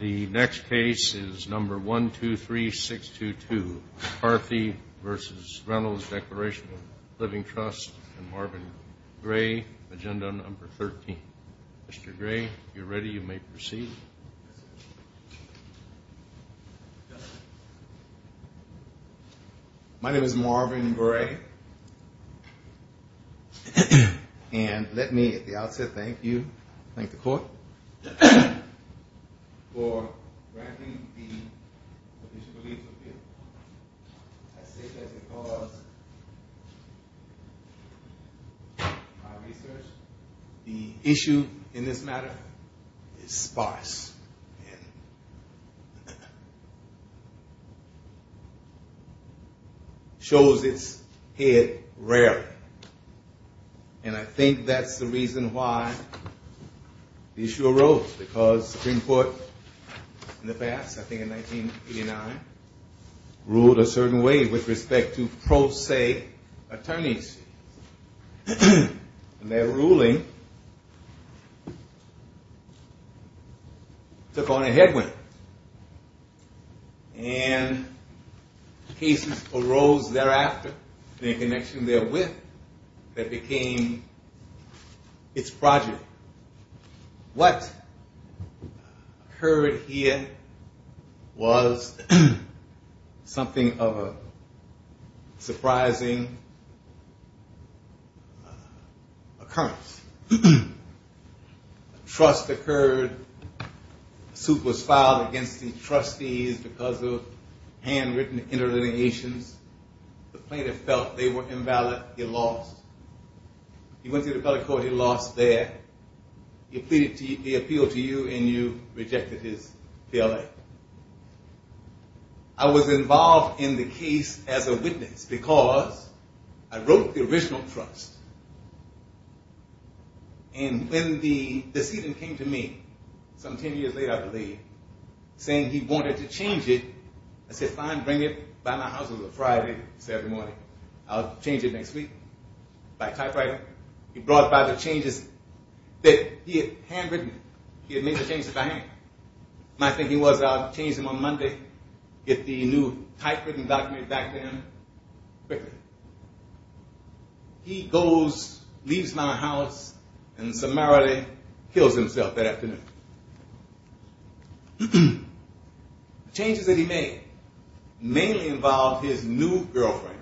The next case is number 123622, McCarthy v. Reynolds, Declaration of Living Trust, and Marvin Gray, agenda number 13. Mr. Gray, if you're ready, you may proceed. My name is Marvin Gray, and let me at the outset thank you, thank the court, for granting the official release appeal. I say that because my research, the issue in this matter is sparse. It shows its head rarely, and I think that's the reason why the issue arose, because the Supreme Court in the past, I think in 1989, ruled a certain way with respect to pro se attorneys. And that ruling took on a headwind, and cases arose thereafter in connection therewith that became its project. What occurred here was something of a surprising occurrence. Trust occurred, a suit was filed against the trustees because of handwritten interlineations. The plaintiff felt they were invalid, he lost. He went to the federal court, he lost there. He appealed to you, and you rejected his PLA. I was involved in the case as a witness because I wrote the original trust. And when the decedent came to me some ten years later, I believe, saying he wanted to change it, I said fine, bring it by my house on a Friday, Saturday morning. I'll change it next week by typewriter. He brought by the changes that he had handwritten, he had made the changes by hand. My thinking was I'll change them on Monday, get the new typewritten document back to him quicker. He goes, leaves my house, and summarily kills himself that afternoon. Changes that he made mainly involved his new girlfriend,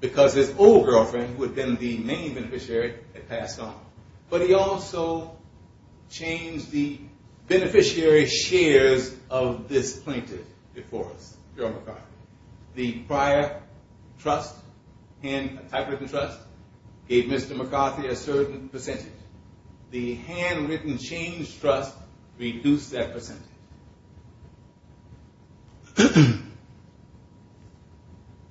because his old girlfriend who had been the main beneficiary had passed on. But he also changed the beneficiary shares of this plaintiff before us. The prior trust, typewritten trust, gave Mr. McCarthy a certain percentage. The handwritten changed trust reduced that percentage.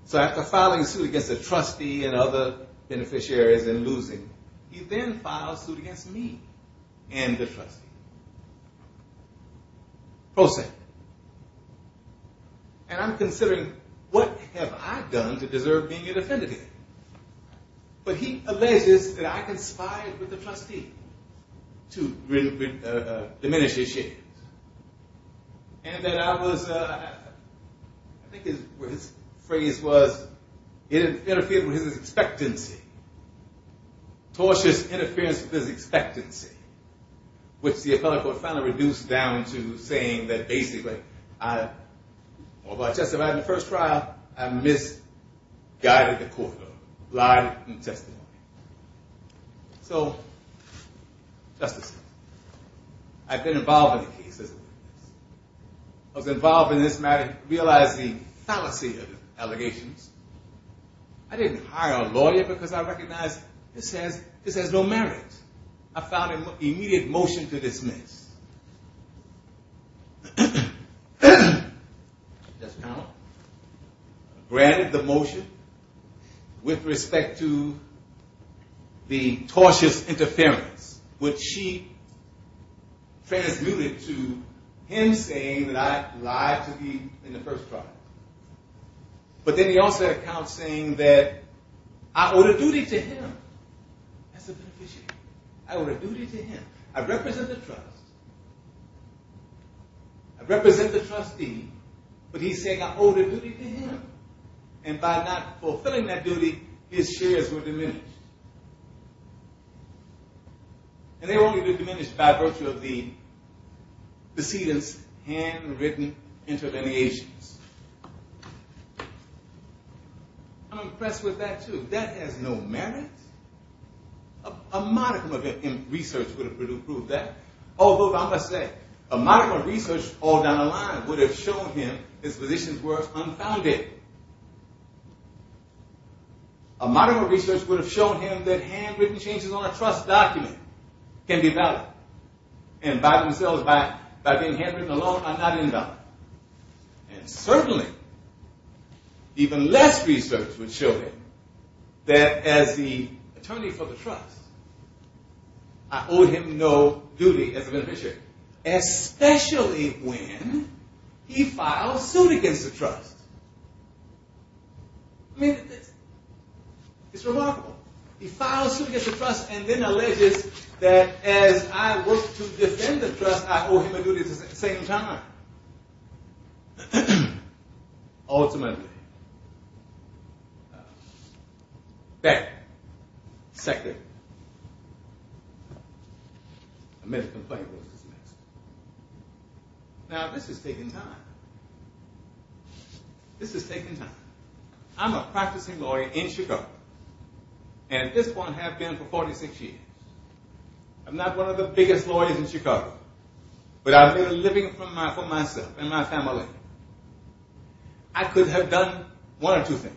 So after filing suit against the trustee and other beneficiaries and losing, he then filed suit against me and the trustee. Pro se. And I'm considering what have I done to deserve being indefendent here? But he alleges that I conspired with the trustee to diminish his shares. And that I was, I think his phrase was, it interfered with his expectancy. Tortious interference with his expectancy, which the appellate court finally reduced down to saying that basically, well, Justice, if I had the first trial, I misguided the court, lied in testimony. So, Justice, I've been involved in the case. I was involved in this matter realizing fallacy of allegations. I didn't hire a lawyer because I recognized this has no merit. I found immediate motion to dismiss. Justice McConnell granted the motion with respect to the tortious interference, which she transmuted to him saying that I lied to him in the first trial. But then he also accounts saying that I owed a duty to him as a beneficiary. I owed a duty to him. I represent the trust. I represent the trustee, but he's saying I owed a duty to him. And by not fulfilling that duty, his shares were diminished. And they were only diminished by virtue of the proceedings' handwritten interventions. I'm impressed with that, too. That has no merit? A modicum of research would have proved that. Although, I must say, a modicum of research all down the line would have shown him his positions were unfounded. A modicum of research would have shown him that handwritten changes on a trust document can be valid and by themselves, by being handwritten alone, are not invalid. And certainly, even less research would show him that as the attorney for the trust, I owe him no duty as a beneficiary, especially when he files suit against the trust. I mean, it's remarkable. He files suit against the trust and then alleges that as I work to defend the trust, I owe him a duty at the same time. Ultimately, that second amendment complaint was dismissed. Now, this is taking time. This is taking time. I'm a practicing lawyer in Chicago, and at this point have been for 46 years. I'm not one of the biggest lawyers in Chicago, but I've been living for myself and my family. I could have done one or two things.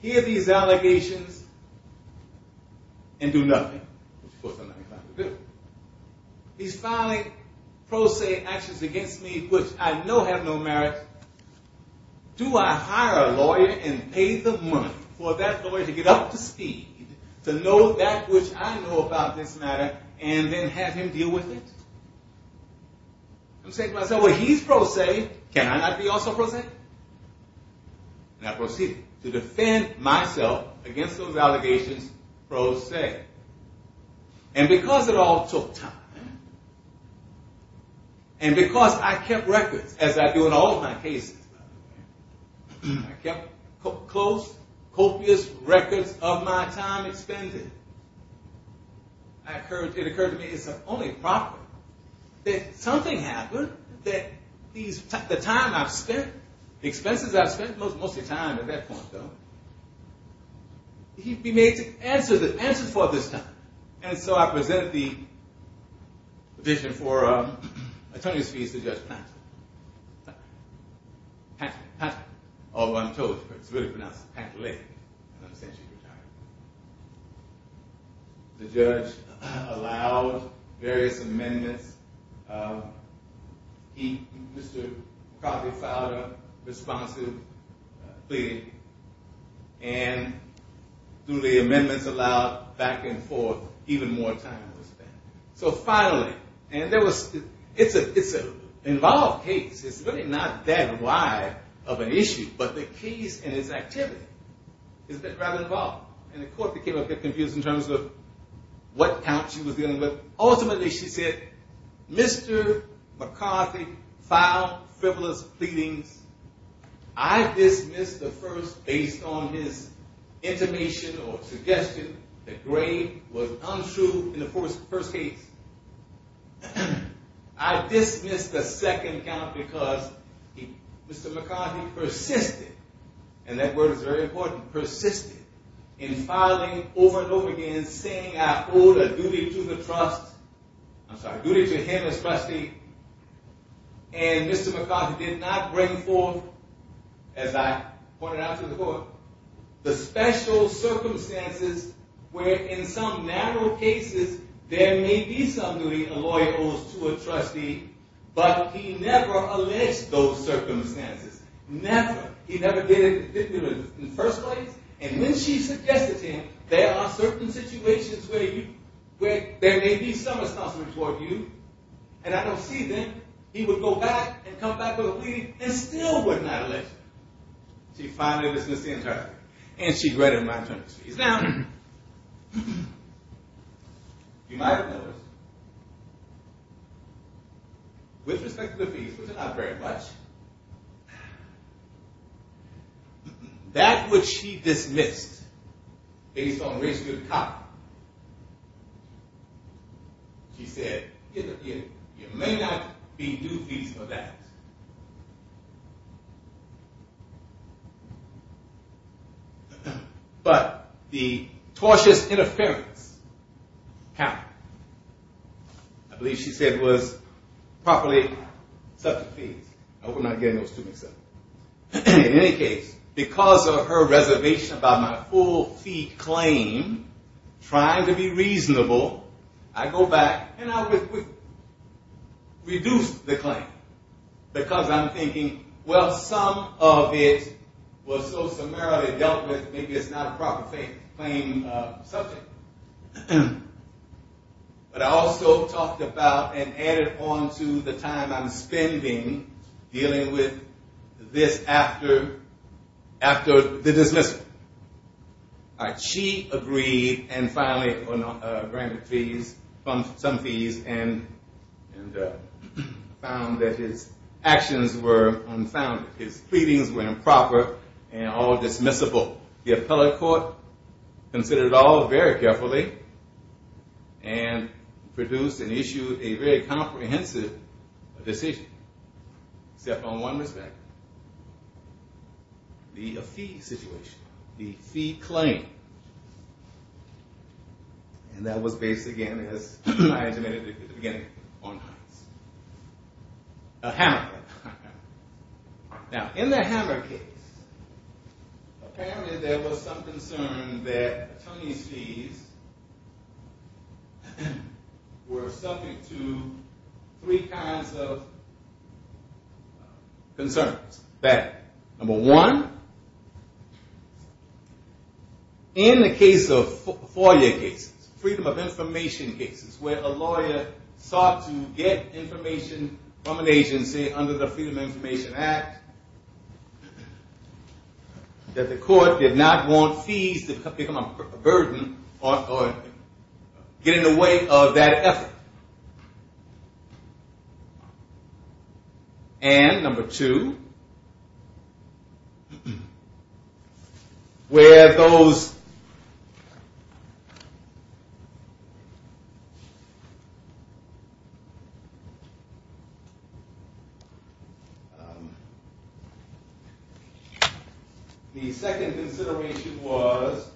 Hear these allegations and do nothing. He's filing pro se actions against me, which I know have no merit. Do I hire a lawyer and pay the money for that lawyer to get up to speed, to know that which I know about this matter, and then have him deal with it? I'm saying to myself, well, he's pro se. Can I not be also pro se? And I proceeded to defend myself against those allegations pro se. And because it all took time, and because I kept records, as I do in all of my cases, I kept close, copious records of my time expended, it occurred to me it's only proper that something happened that the time I've spent, the expenses I've spent, most of the time at that point, though, he'd be made to answer for this time. And so I present the petition for attorney's fees to Judge Patrick. The judge allowed various amendments. He, Mr. McCarthy, filed a responsive plea, and through the amendments allowed back and forth, even more time was spent. So finally, and it's an involved case. It's really not that wide of an issue, but the case and its activity is rather involved. And the court became a bit confused in terms of what count she was dealing with. I dismissed the second count because he, Mr. McCarthy, persisted, and that word is very important, persisted in filing over and over again saying I owe the duty to the trust, I'm sorry, duty to him as trustee, and Mr. McCarthy did not bring forth, as I pointed out to the court, the special circumstances where in some narrow cases there may be something a lawyer owes to a trustee, but he never alleged those circumstances. Never. He never did in the first place, and when she suggested to him there are certain situations where there may be some responsibility toward you, and I don't see then he would go back and come back with a plea and still would not allege. She finally dismissed the entire thing, and she read in my terms. Now, you might have noticed, with respect to the fees, which are not very much, that which she dismissed based on race to the top, she said you may not be due fees for that. But the tortious interference happened. I believe she said it was properly subject fees. I hope I'm not getting those two mixed up. In any case, because of her reservation about my full fee claim, trying to be reasonable, I go back and I reduce the claim. Because I'm thinking, well, some of it was so summarily dealt with, maybe it's not a proper claim subject. But I also talked about and added on to the time I'm spending dealing with this after the dismissal. She agreed and finally granted some fees and found that his actions were unfounded. His pleadings were improper and all dismissible. The appellate court considered it all very carefully and produced and issued a very comprehensive decision. Except on one respect. The fee situation. The fee claim. And that was based, again, as I mentioned at the beginning, on her. A hammer case. Now, in the hammer case, apparently there was some concern that Tony's fees were subject to three kinds of concerns. Number one, in the case of FOIA cases, freedom of information cases, where a lawyer sought to get information from an agency under the Freedom of Information Act, that the court did not want fees to become a burden or get in the way of that effort. And number two, where those – the second consideration was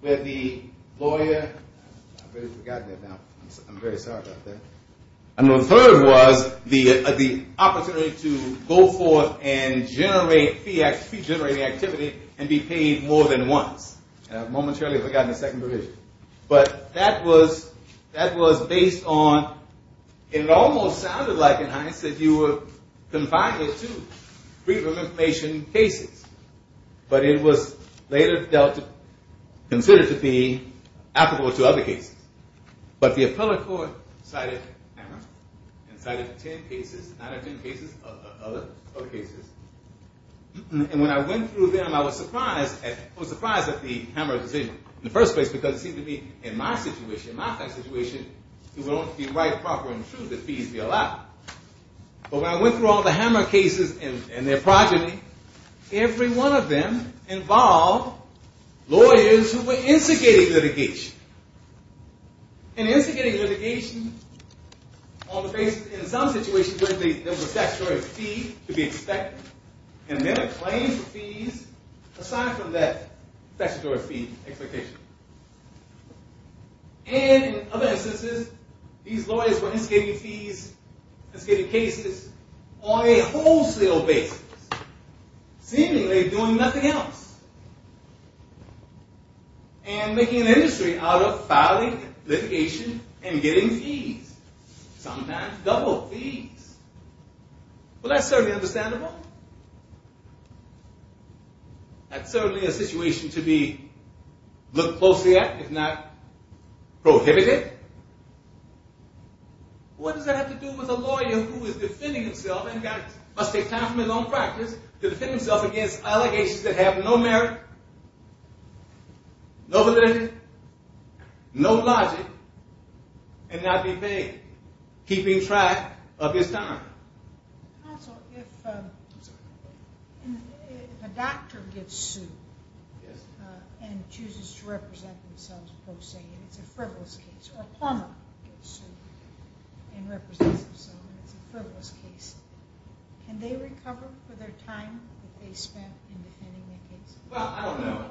where the lawyer – I've already forgotten that now. I'm very sorry about that. And the third was the opportunity to go forth and generate fee-generating activity and be paid more than once. Momentarily I've forgotten the second provision. But that was based on – it almost sounded like, in hindsight, you were confined to two freedom of information cases. But it was later considered to be applicable to other cases. But the appellate court cited hammer and cited ten cases – nine or ten cases of other cases. And when I went through them, I was surprised at the hammer decision in the first place because it seemed to me, in my situation, in my situation, it would only be right, proper, and true that fees be allowed. But when I went through all the hammer cases and their progeny, every one of them involved lawyers who were instigating litigation. And instigating litigation on the basis – in some situations, there was a statutory fee to be expected. And then a claim for fees aside from that statutory fee expectation. And in other instances, these lawyers were instigating fees, instigating cases on a wholesale basis, seemingly doing nothing else. And making an industry out of filing litigation and getting fees. Sometimes double fees. Well, that's certainly understandable. That's certainly a situation to be looked closely at, if not prohibited. What does that have to do with a lawyer who is defending himself and must take time from his own practice to defend himself against allegations that have no merit, no validity, no logic, and not be paid, keeping track of his time? Counsel, if a doctor gets sued and chooses to represent himself, say it's a frivolous case, or a plumber gets sued and represents himself and it's a frivolous case, can they recover for their time that they spent in defending their case? Well, I don't know.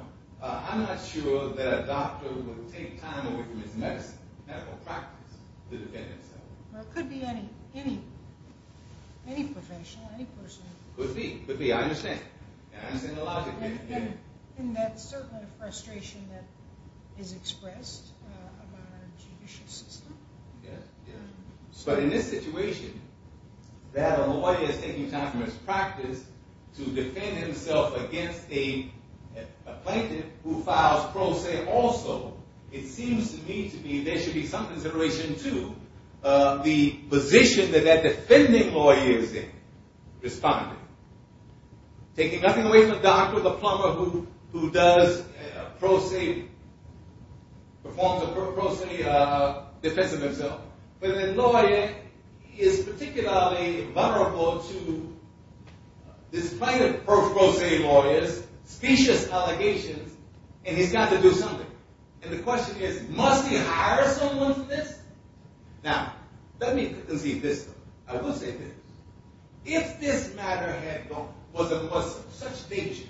I'm not sure that a doctor would take time away from his medical practice to defend himself. Or it could be any professional, any person. Could be. I understand. I understand the logic. And that's certainly a frustration that is expressed about our judicial system. But in this situation, that a lawyer is taking time from his practice to defend himself against a plaintiff who files pro se also, it seems to me to be there should be some consideration to the position that that defending lawyer is in, responding. Taking nothing away from a doctor, the plumber who does pro se, performs a pro se defense of himself. But the lawyer is particularly vulnerable to this kind of pro se lawyers, specious allegations, and he's got to do something. And the question is, must he hire someone for this? Now, let me concede this. I will say this. If this matter was of such danger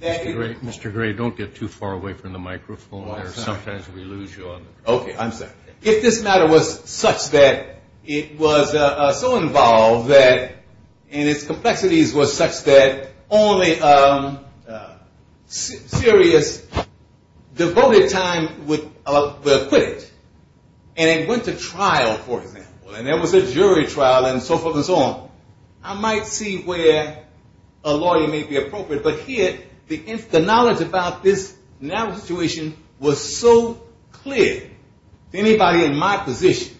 that it would Mr. Gray, don't get too far away from the microphone. Sometimes we lose you on the microphone. Okay, I'm sorry. If this matter was such that it was so involved and its complexities were such that only serious devoted time would acquit it, and it went to trial, for example, and there was a jury trial and so forth and so on, I might see where a lawyer may be appropriate. But here, the knowledge about this now situation was so clear to anybody in my position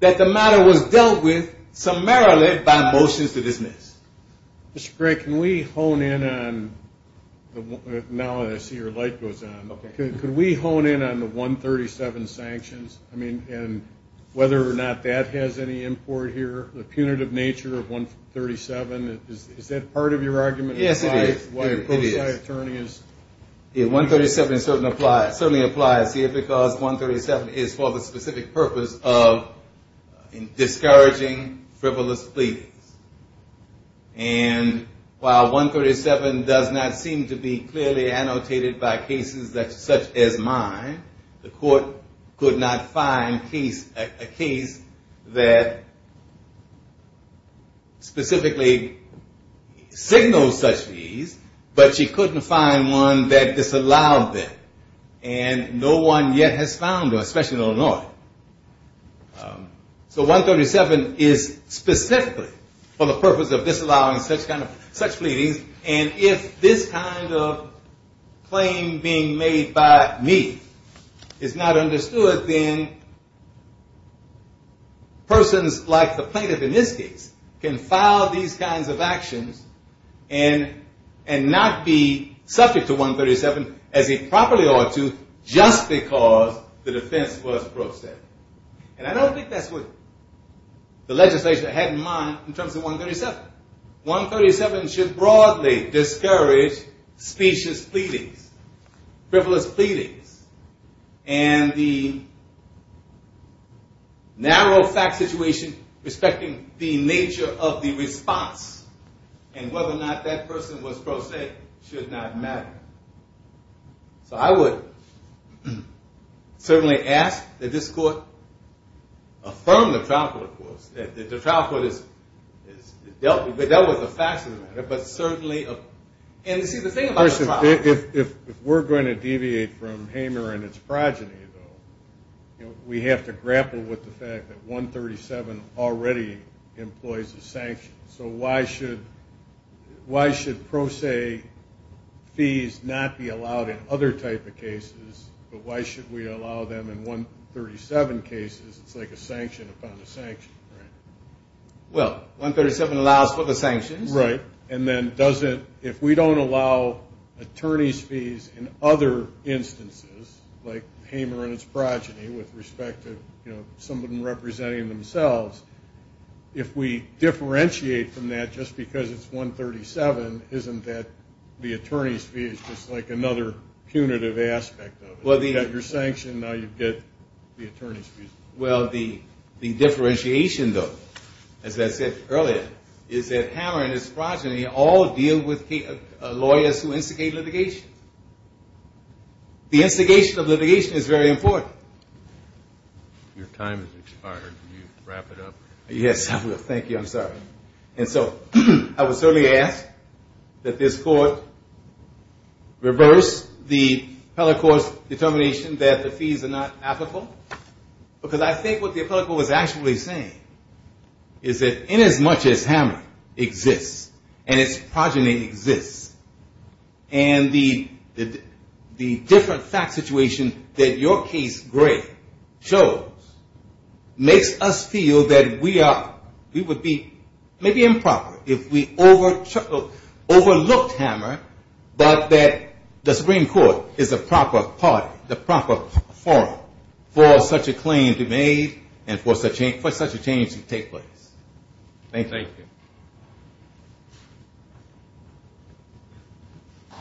that the matter was dealt with summarily by motions to dismiss. Mr. Gray, can we hone in on, now I see your light goes on. Could we hone in on the 137 sanctions and whether or not that has any import here, the punitive nature of 137? Is that part of your argument? Yes, it is. 137 certainly applies here because 137 is for the specific purpose of discouraging frivolous pleadings. And while 137 does not seem to be clearly annotated by cases such as mine, the court could not find a case that specifically signals such pleas, but she couldn't find one that disallowed them. And no one yet has found one, especially in Illinois. So 137 is specifically for the purpose of disallowing such pleadings, and if this kind of claim being made by me is not understood, then persons like the plaintiff in this case can file these kinds of actions and not be subject to 137 as they properly ought to just because the defense was gross. And I don't think that's what the legislature had in mind in terms of 137. 137 should broadly discourage specious pleadings, frivolous pleadings, and the narrow fact situation respecting the nature of the response and whether or not that person was pro se should not matter. So I would certainly ask that this court affirm the trial court. The trial court has dealt with the facts of the matter, but certainly – and you see, the thing about the trial court – in other type of cases, but why should we allow them in 137 cases? It's like a sanction upon a sanction, right? Well, 137 allows for the sanctions. Right. If we don't allow attorney's fees in other instances, like Hamer and his progeny with respect to some of them representing themselves, if we differentiate from that just because it's 137, isn't that the attorney's fee is just like another punitive aspect of it? You get your sanction, now you get the attorney's fees. Well, the differentiation, though, as I said earlier, is that Hamer and his progeny all deal with lawyers who instigate litigation. The instigation of litigation is very important. Your time has expired. Can you wrap it up? Yes, I will. Thank you. I'm sorry. And so I would certainly ask that this court reverse the appellate court's determination that the fees are not applicable, because I think what the appellate court was actually saying is that inasmuch as Hamer exists and his progeny exists, and the different fact situation that your case, Gray, shows makes us feel that we would be maybe improper if we overlooked Hamer, but that the Supreme Court is the proper party, the proper forum for such a claim to be made and for such a change to take place. Thank you.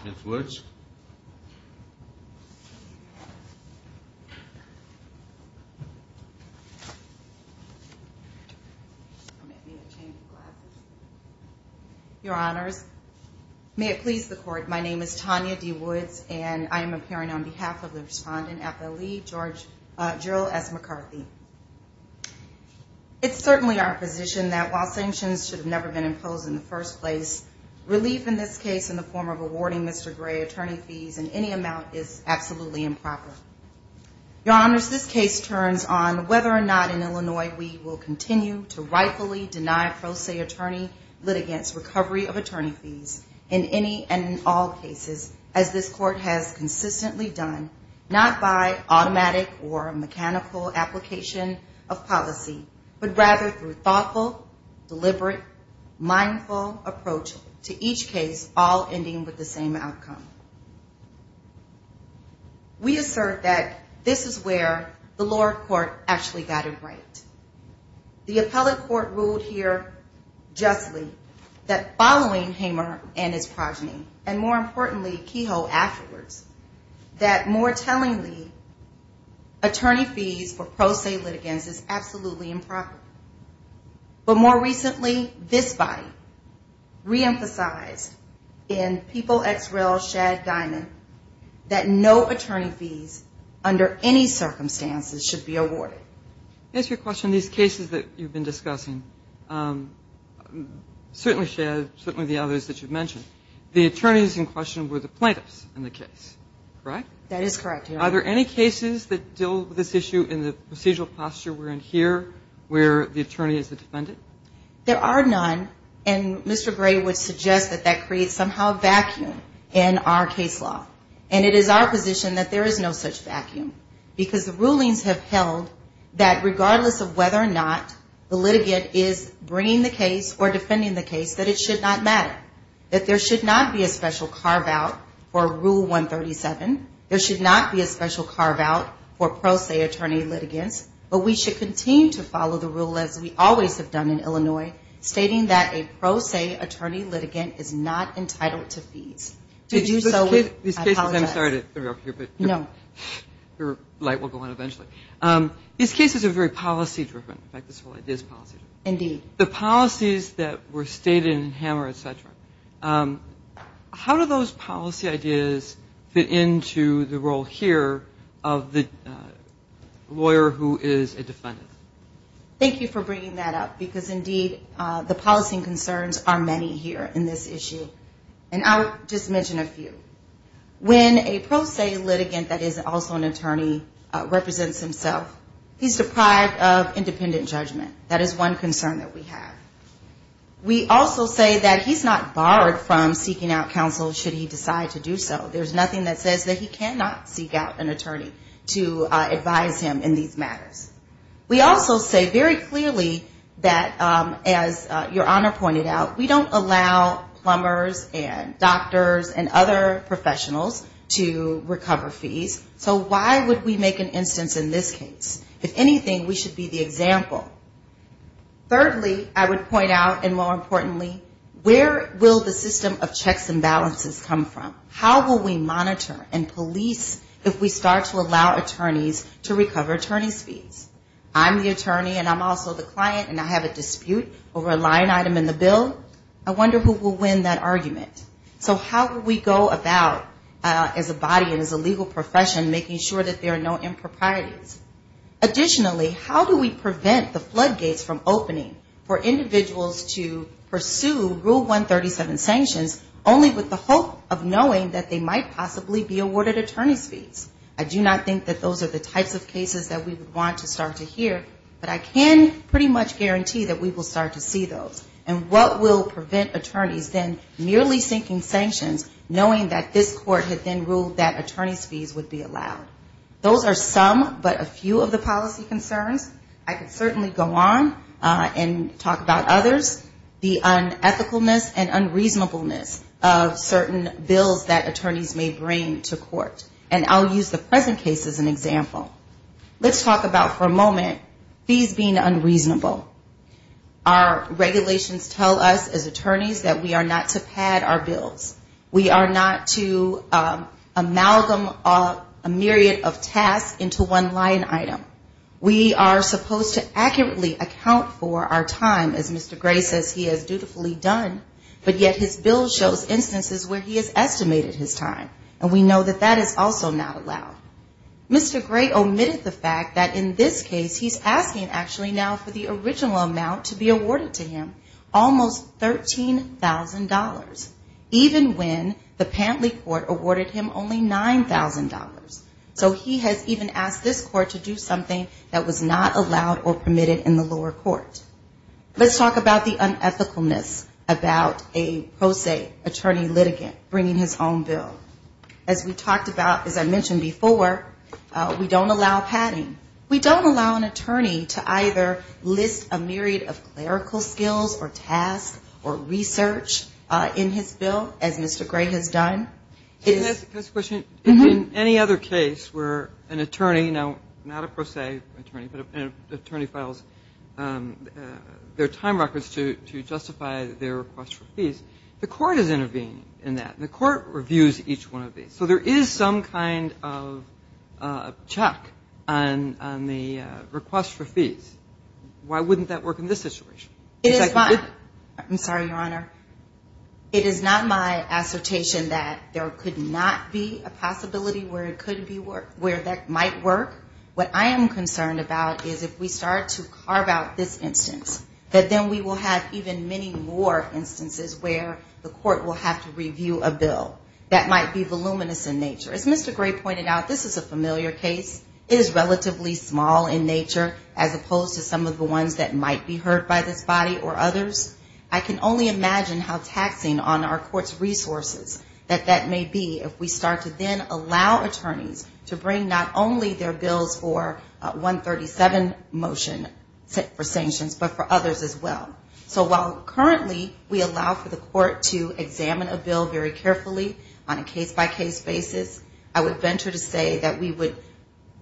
Ms. Woods? Your Honors, may it please the Court, my name is Tanya D. Woods, and I am appearing on behalf of the respondent, FLE, Gerald S. McCarthy. It's certainly our position that while sanctions should have never been imposed in the first place, relief in this case in the form of awarding Mr. Gray attorney fees in any amount is absolutely improper. Your Honors, this case turns on whether or not in Illinois we will continue to rightfully deny pro se attorney litigants recovery of attorney fees in any and all cases, as this court has consistently done, not by automatic or mechanical application of policy, but rather through thoughtful, deliberate, mindful approach to each case, all ending with the same outcome. We assert that this is where the lower court actually got it right. The appellate court ruled here justly that following Hamer and his progeny, and more importantly, Kehoe afterwards, that more tellingly attorney fees for pro se litigants is absolutely improper. But more recently, this body reemphasized in People x Rel Shad Guyman that no attorney fees under any circumstances should be awarded. To answer your question, these cases that you've been discussing, certainly Shad, certainly the others that you've mentioned, the attorneys in question were the plaintiffs in the case, correct? And are there any cases that deal with this issue in the procedural posture we're in here where the attorney is the defendant? There are none, and Mr. Gray would suggest that that creates somehow a vacuum in our case law. And it is our position that there is no such vacuum, because the rulings have held that regardless of whether or not the litigant is bringing the case or defending the case, that it should not matter. That there should not be a special carve-out for Rule 137. There should not be a special carve-out for pro se attorney litigants. But we should continue to follow the rule as we always have done in Illinois, stating that a pro se attorney litigant is not entitled to fees. I apologize. I'm sorry to interrupt you. No. Your light will go on eventually. These cases are very policy-driven. In fact, this whole idea is policy-driven. Indeed. The policies that were stated in Hammer, et cetera, how do those policy ideas fit into the role here of the lawyer who is a defendant? Thank you for bringing that up, because indeed the policy concerns are many here in this issue. And I'll just mention a few. When a pro se litigant that is also an attorney represents himself, he's deprived of independent judgment. That is one concern that we have. We also say that he's not barred from seeking out counsel should he decide to do so. There's nothing that says that he cannot seek out an attorney to advise him in these matters. We also say very clearly that, as Your Honor pointed out, we don't allow plumbers and doctors and other professionals to recover fees. So why would we make an instance in this case? If anything, we should be the example. Thirdly, I would point out, and more importantly, where will the system of checks and balances come from? How will we monitor and police if we start to allow attorneys to recover attorney fees? I'm the attorney and I'm also the client and I have a dispute over a line item in the bill. I wonder who will win that argument. So how will we go about, as a body and as a legal profession, making sure that there are no improprieties? Additionally, how do we prevent the floodgates from opening for individuals to pursue Rule 137 sanctions, only with the hope of knowing that they might possibly be awarded attorney's fees? I do not think that those are the types of cases that we would want to start to hear, but I can pretty much guarantee that we will start to see those. And what will prevent attorneys then merely seeking sanctions, knowing that this court had then ruled that attorney's fees would be allowed? Those are some, but a few of the policy concerns. I could certainly go on and talk about others. The unethicalness and unreasonableness of certain bills that attorneys may bring to court. And I'll use the present case as an example. Let's talk about, for a moment, fees being unreasonable. Our regulations tell us as attorneys that we are not to pad our bills. We are not to amalgamate a myriad of tasks into one line item. We are supposed to accurately account for our time, as Mr. Gray says he has dutifully done, but yet his bill shows instances where he has estimated his time. And we know that that is also not allowed. Mr. Gray omitted the fact that in this case he's asking, actually, now for the original amount to be awarded to him, almost $13,000, even when the Pantley Court awarded him only $9,000. So he has even asked this court to do something that was not allowed or permitted in the lower court. Let's talk about the unethicalness about a pro se attorney litigant bringing his own bill. As we talked about, as I mentioned before, we don't allow padding. We don't allow an attorney to either list a myriad of clerical skills or tasks or research in his bill, as Mr. Gray has done. Just a question. In any other case where an attorney, not a pro se attorney, but an attorney files their time records to justify their request for fees, the court is intervening in that. And the court reviews each one of these. So there is some kind of check on the request for fees. Why wouldn't that work in this situation? I'm sorry, Your Honor. It is not my assertion that there could not be a possibility where it could be where that might work. What I am concerned about is if we start to carve out this instance, that then we will have even many more instances where the court will have to review a bill. That might be voluminous in nature. As Mr. Gray pointed out, this is a familiar case. It is relatively small in nature as opposed to some of the ones that might be heard by this body or others. I can only imagine how taxing on our court's resources that that may be if we start to then allow attorneys to bring not only their bills for 137 motion for sanctions, but for others as well. So while currently we allow for the court to examine a bill very carefully on a case-by-case basis, I would venture to say that we would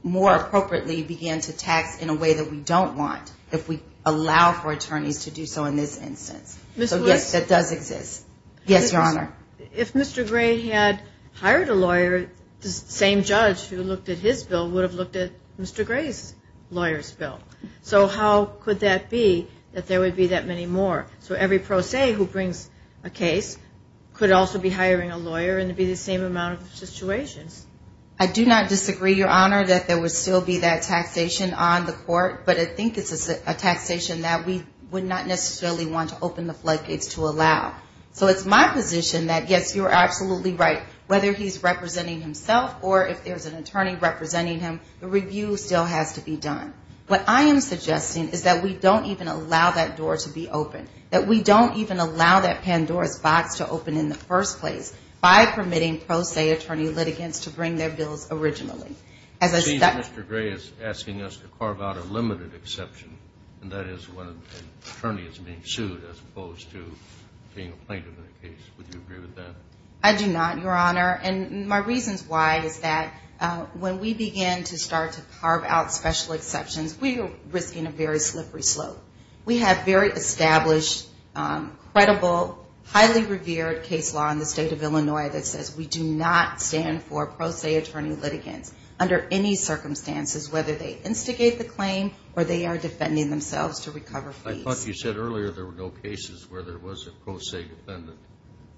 more appropriately begin to tax in a way that we don't want if we allow for attorneys to do so in this instance. So, yes, that does exist. Yes, Your Honor. If Mr. Gray had hired a lawyer, the same judge who looked at his bill would have looked at Mr. Gray's lawyer's bill. So how could that be that there would be that many more? So every pro se who brings a case could also be hiring a lawyer and it would be the same amount of situations. I do not disagree, Your Honor, that there would still be that taxation on the court, but I think it's a taxation that we would not necessarily want to open the floodgates to allow. So it's my position that, yes, you're absolutely right, whether he's representing himself or if there's an attorney representing him, the review still has to be done. What I am suggesting is that we don't even allow that door to be opened, that we don't even allow that Pandora's box to open in the first place by permitting pro se attorney litigants to bring their bills originally. It seems Mr. Gray is asking us to carve out a limited exception, and that is when an attorney is being sued as opposed to being a plaintiff in a case. Would you agree with that? I do not, Your Honor, and my reasons why is that when we begin to start to carve out special exceptions, we are risking a very slippery slope. We have very established, credible, highly revered case law in the State of Illinois that says we do not stand for pro se attorney litigants under any circumstances, whether they instigate the claim or they are defending themselves to recover fees. I thought you said earlier there were no cases where there was a pro se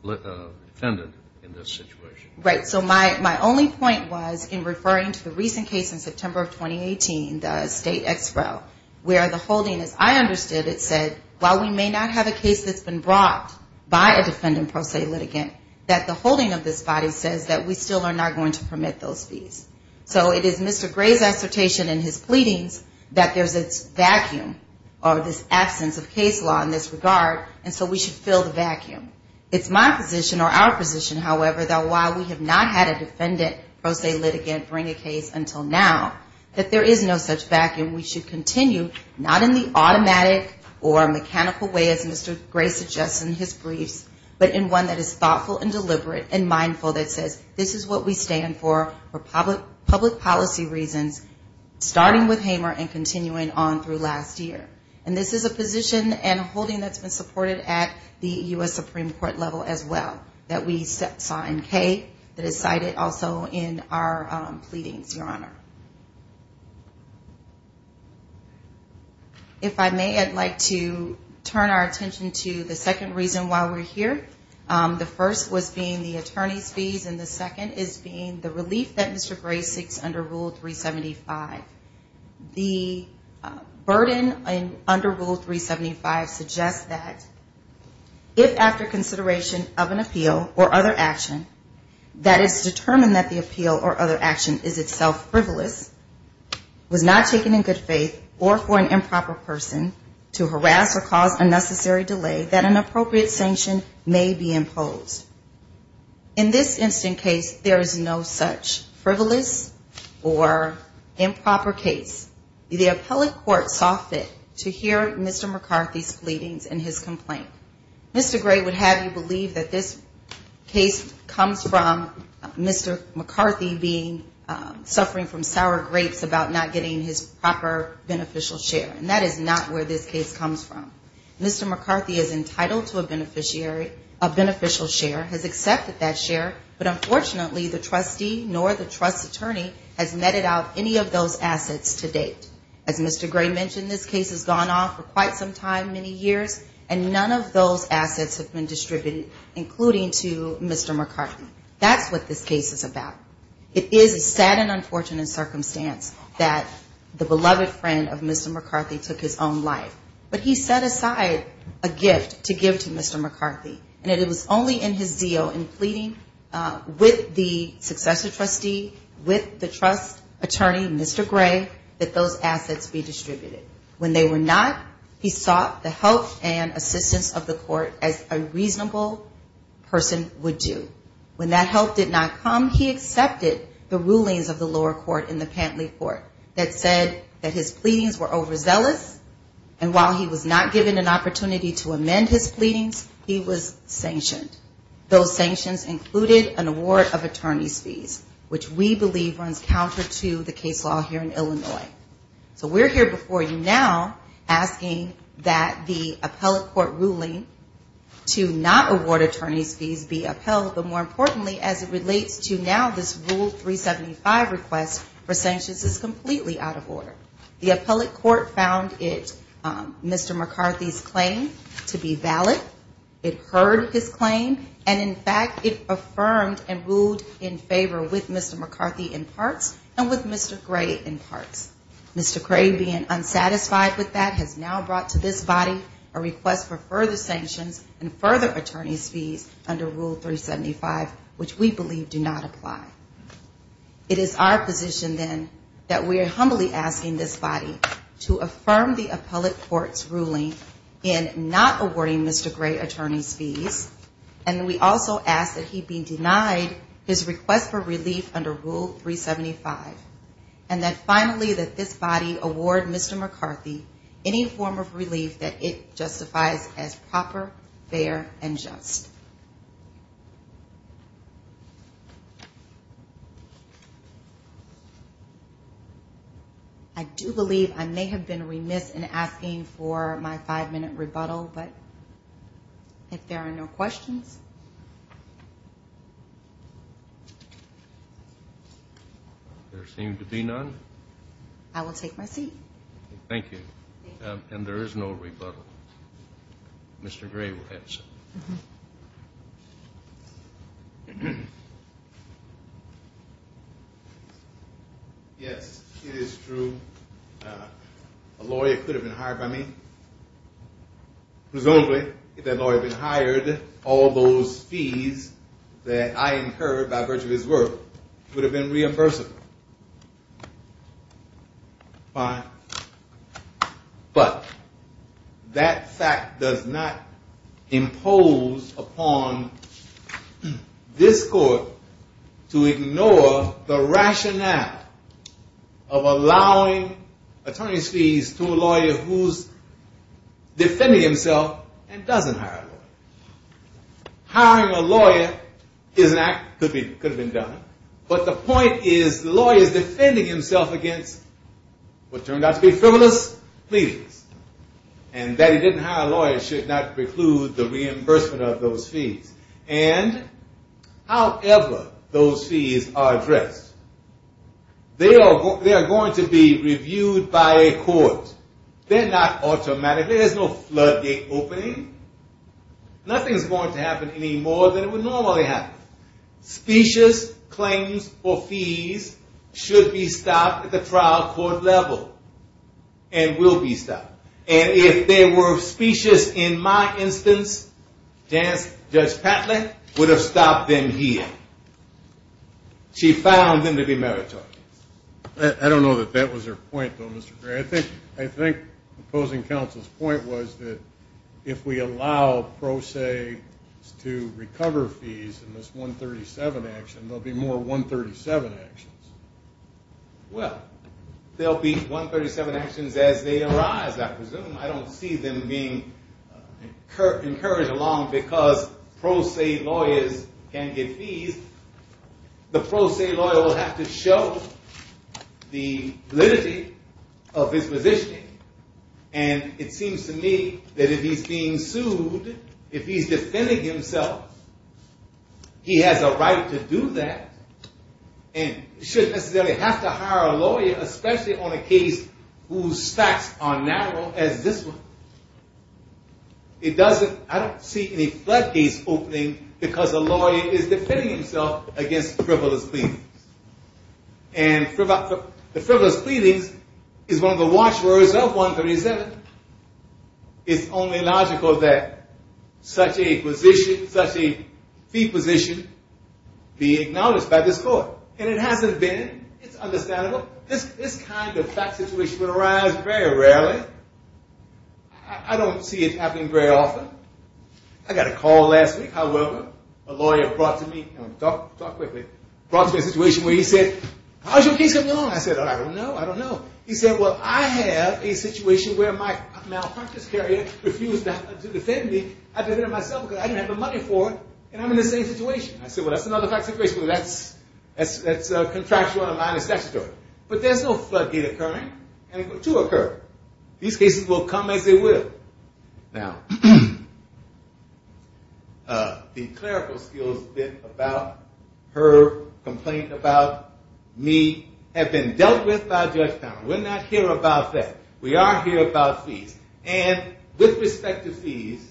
defendant in this situation. Right. So my only point was in referring to the recent case in September of 2018, the State Expo, where the holding, as I understood it, said while we may not have a case that's been brought by a defendant pro se litigant, that the holding of this body says that we still are not going to permit those fees. So it is Mr. Gray's assertion in his pleadings that there's this vacuum or this absence of case law in this regard, and so we should fill the vacuum. It's my position or our position, however, that while we have not had a defendant pro se litigant bring a case until now, that there is no such vacuum. We should continue, not in the automatic or mechanical way as Mr. Gray suggests in his briefs, but in one that is thoughtful and deliberate and mindful that says this is what we stand for for public policy reasons, starting with Hamer and continuing on through last year. And this is a position and a holding that's been supported at the U.S. Supreme Court level as well that we saw in Kay, that is cited also in our pleadings, Your Honor. If I may, I'd like to turn our attention to the second reason why we're here. The first was being the attorney's fees, and the second is being the relief that Mr. Gray seeks under Rule 375. The burden under Rule 375 suggests that if after consideration of an appeal or other action, that it's determined that the appeal or other action is itself frivolous, was not taken in good faith, or for an improper person to harass or cause unnecessary delay, that an appropriate sanction may be imposed. In this instant case, there is no such frivolous or improper case. The appellate court saw fit to hear Mr. McCarthy's pleadings and his complaint. Mr. Gray would have you believe that this case comes from Mr. McCarthy being, suffering from sour grapes about not getting his proper beneficial share. And that is not where this case comes from. Mr. McCarthy is entitled to a beneficiary, a beneficial share, has accepted that share, but unfortunately the trustee nor the trust attorney has netted out any of those assets to date. As Mr. Gray mentioned, this case has gone on for quite some time, many years, and none of those assets have been distributed, including to Mr. McCarthy. That's what this case is about. It is a sad and unfortunate circumstance that the beloved friend of Mr. McCarthy took his own life. But he set aside a gift to give to Mr. McCarthy, and it was only in his deal in pleading with the successor trustee, with the trust attorney, Mr. Gray, that those assets be distributed. When they were not, he sought the help and assistance of the court as a reasonable person would do. When that help did not come, he accepted the rulings of the lower court in the Pantley Court that said that his pleadings were overzealous, and while he was not given an opportunity to amend his pleadings, he was sanctioned. Those sanctions included an award of attorney's fees, which we believe runs counter to the case law here in Illinois. So we're here before you now asking that the appellate court ruling to not award attorney's fees be upheld, but more importantly as it relates to now this Rule 375 request for sanctions is completely out of order. The appellate court found Mr. McCarthy's claim to be valid. It heard his claim, and, in fact, it affirmed and ruled in favor with Mr. McCarthy in parts and with Mr. Gray in parts. Mr. Gray, being unsatisfied with that, has now brought to this body a request for further sanctions and further attorney's fees under Rule 375, which we believe do not apply. It is our position, then, that we are humbly asking this body to affirm the appellate court's ruling in not awarding Mr. Gray attorney's fees, and we also ask that he be denied his request for relief under Rule 375, and that finally that this body award Mr. McCarthy any form of relief that it justifies as proper, fair, and just. I do believe I may have been remiss in asking for my five-minute rebuttal, but if there are no questions... There seem to be none. I will take my seat. Thank you. And there is no rebuttal. Mr. Gray will answer. Yes, it is true. A lawyer could have been hired by me. Presumably, if that lawyer had been hired, all those fees that I incurred by virtue of his work would have been reimbursable. Fine. But that fact does not impose upon this court to ignore the fact that Mr. McCarthy, he does not ignore the rationale of allowing attorney's fees to a lawyer who is defending himself and doesn't hire a lawyer. Hiring a lawyer is an act that could have been done, but the point is the lawyer is defending himself against what turned out to be frivolous pleas, and that he didn't hire a lawyer should not preclude the reimbursement of those fees. And however those fees are addressed, they are going to be reviewed by a court. They're not automatic. There's no floodgate opening. Nothing is going to happen anymore than it would normally happen. Specious claims or fees should be stopped at the trial court level and will be stopped. And if they were specious in my instance, Judge Patlet would have stopped them here. She found them to be meritorious. I don't know that that was her point, though, Mr. Gray. I think opposing counsel's point was that if we allow pro se to recover fees in this 137 action, there will be more 137 actions. Well, there will be 137 actions as they arise, I presume. I don't see them being encouraged along because pro se lawyers can get fees. The pro se lawyer will have to show the validity of his position. And it seems to me that if he's being sued, if he's defending himself, he has a right to do that. And he shouldn't necessarily have to hire a lawyer, especially on a case whose facts are narrow as this one. I don't see any floodgates opening because a lawyer is defending himself against frivolous pleadings. And the frivolous pleadings is one of the watchwords of 137. It's only logical that such a fee position be acknowledged by this court. And it hasn't been. It's understandable. This kind of fact situation will arise very rarely. I don't see it happening very often. I got a call last week, however, a lawyer brought to me a situation where he said, how's your case coming along? I said, I don't know, I don't know. He said, well, I have a situation where my malpractice carrier refused to defend me. I defended myself because I didn't have the money for it, and I'm in the same situation. But there's no floodgate occurring to occur. These cases will come as they will. Now, the clerical skills bit about her complaint about me have been dealt with by Judge Towner. We're not here about that. We are here about fees. And with respect to fees,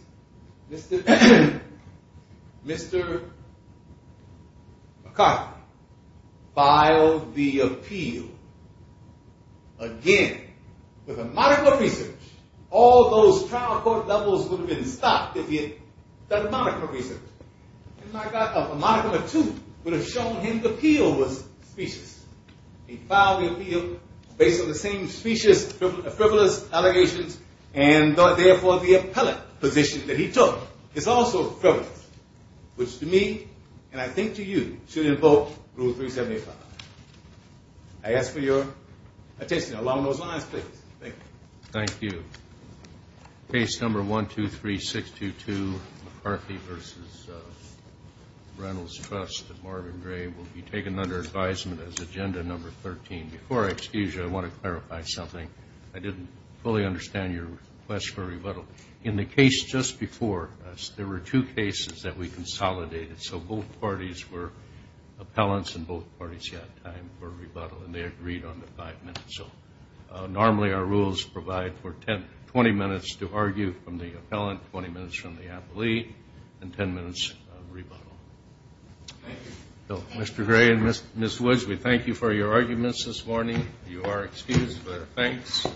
Mr. McCarthy filed the appeal again with a modicum of reason. All those trial court levels would have been stopped if he had done a modicum of reason. A modicum of two would have shown him the appeal was specious. He filed the appeal based on the same specious, frivolous allegations, and therefore the appellate position that he took is also frivolous, which to me, and I think to you, should invoke Rule 375. I ask for your attention. Along those lines, please. Thank you. Thank you. Case number 123622, McCarthy v. Reynolds Trust, Marvin Gray, will be taken under advisement as agenda number 13. Before I excuse you, I want to clarify something. I didn't fully understand your request for rebuttal. In the case just before us, there were two cases that we consolidated. So both parties were appellants, and both parties had time for rebuttal, and they agreed on the five minutes. So normally our rules provide for 20 minutes to argue from the appellant, 20 minutes from the appellee, and 10 minutes of rebuttal. Thank you. Mr. Gray and Ms. Woods, we thank you for your arguments this morning. You are excused, but thanks.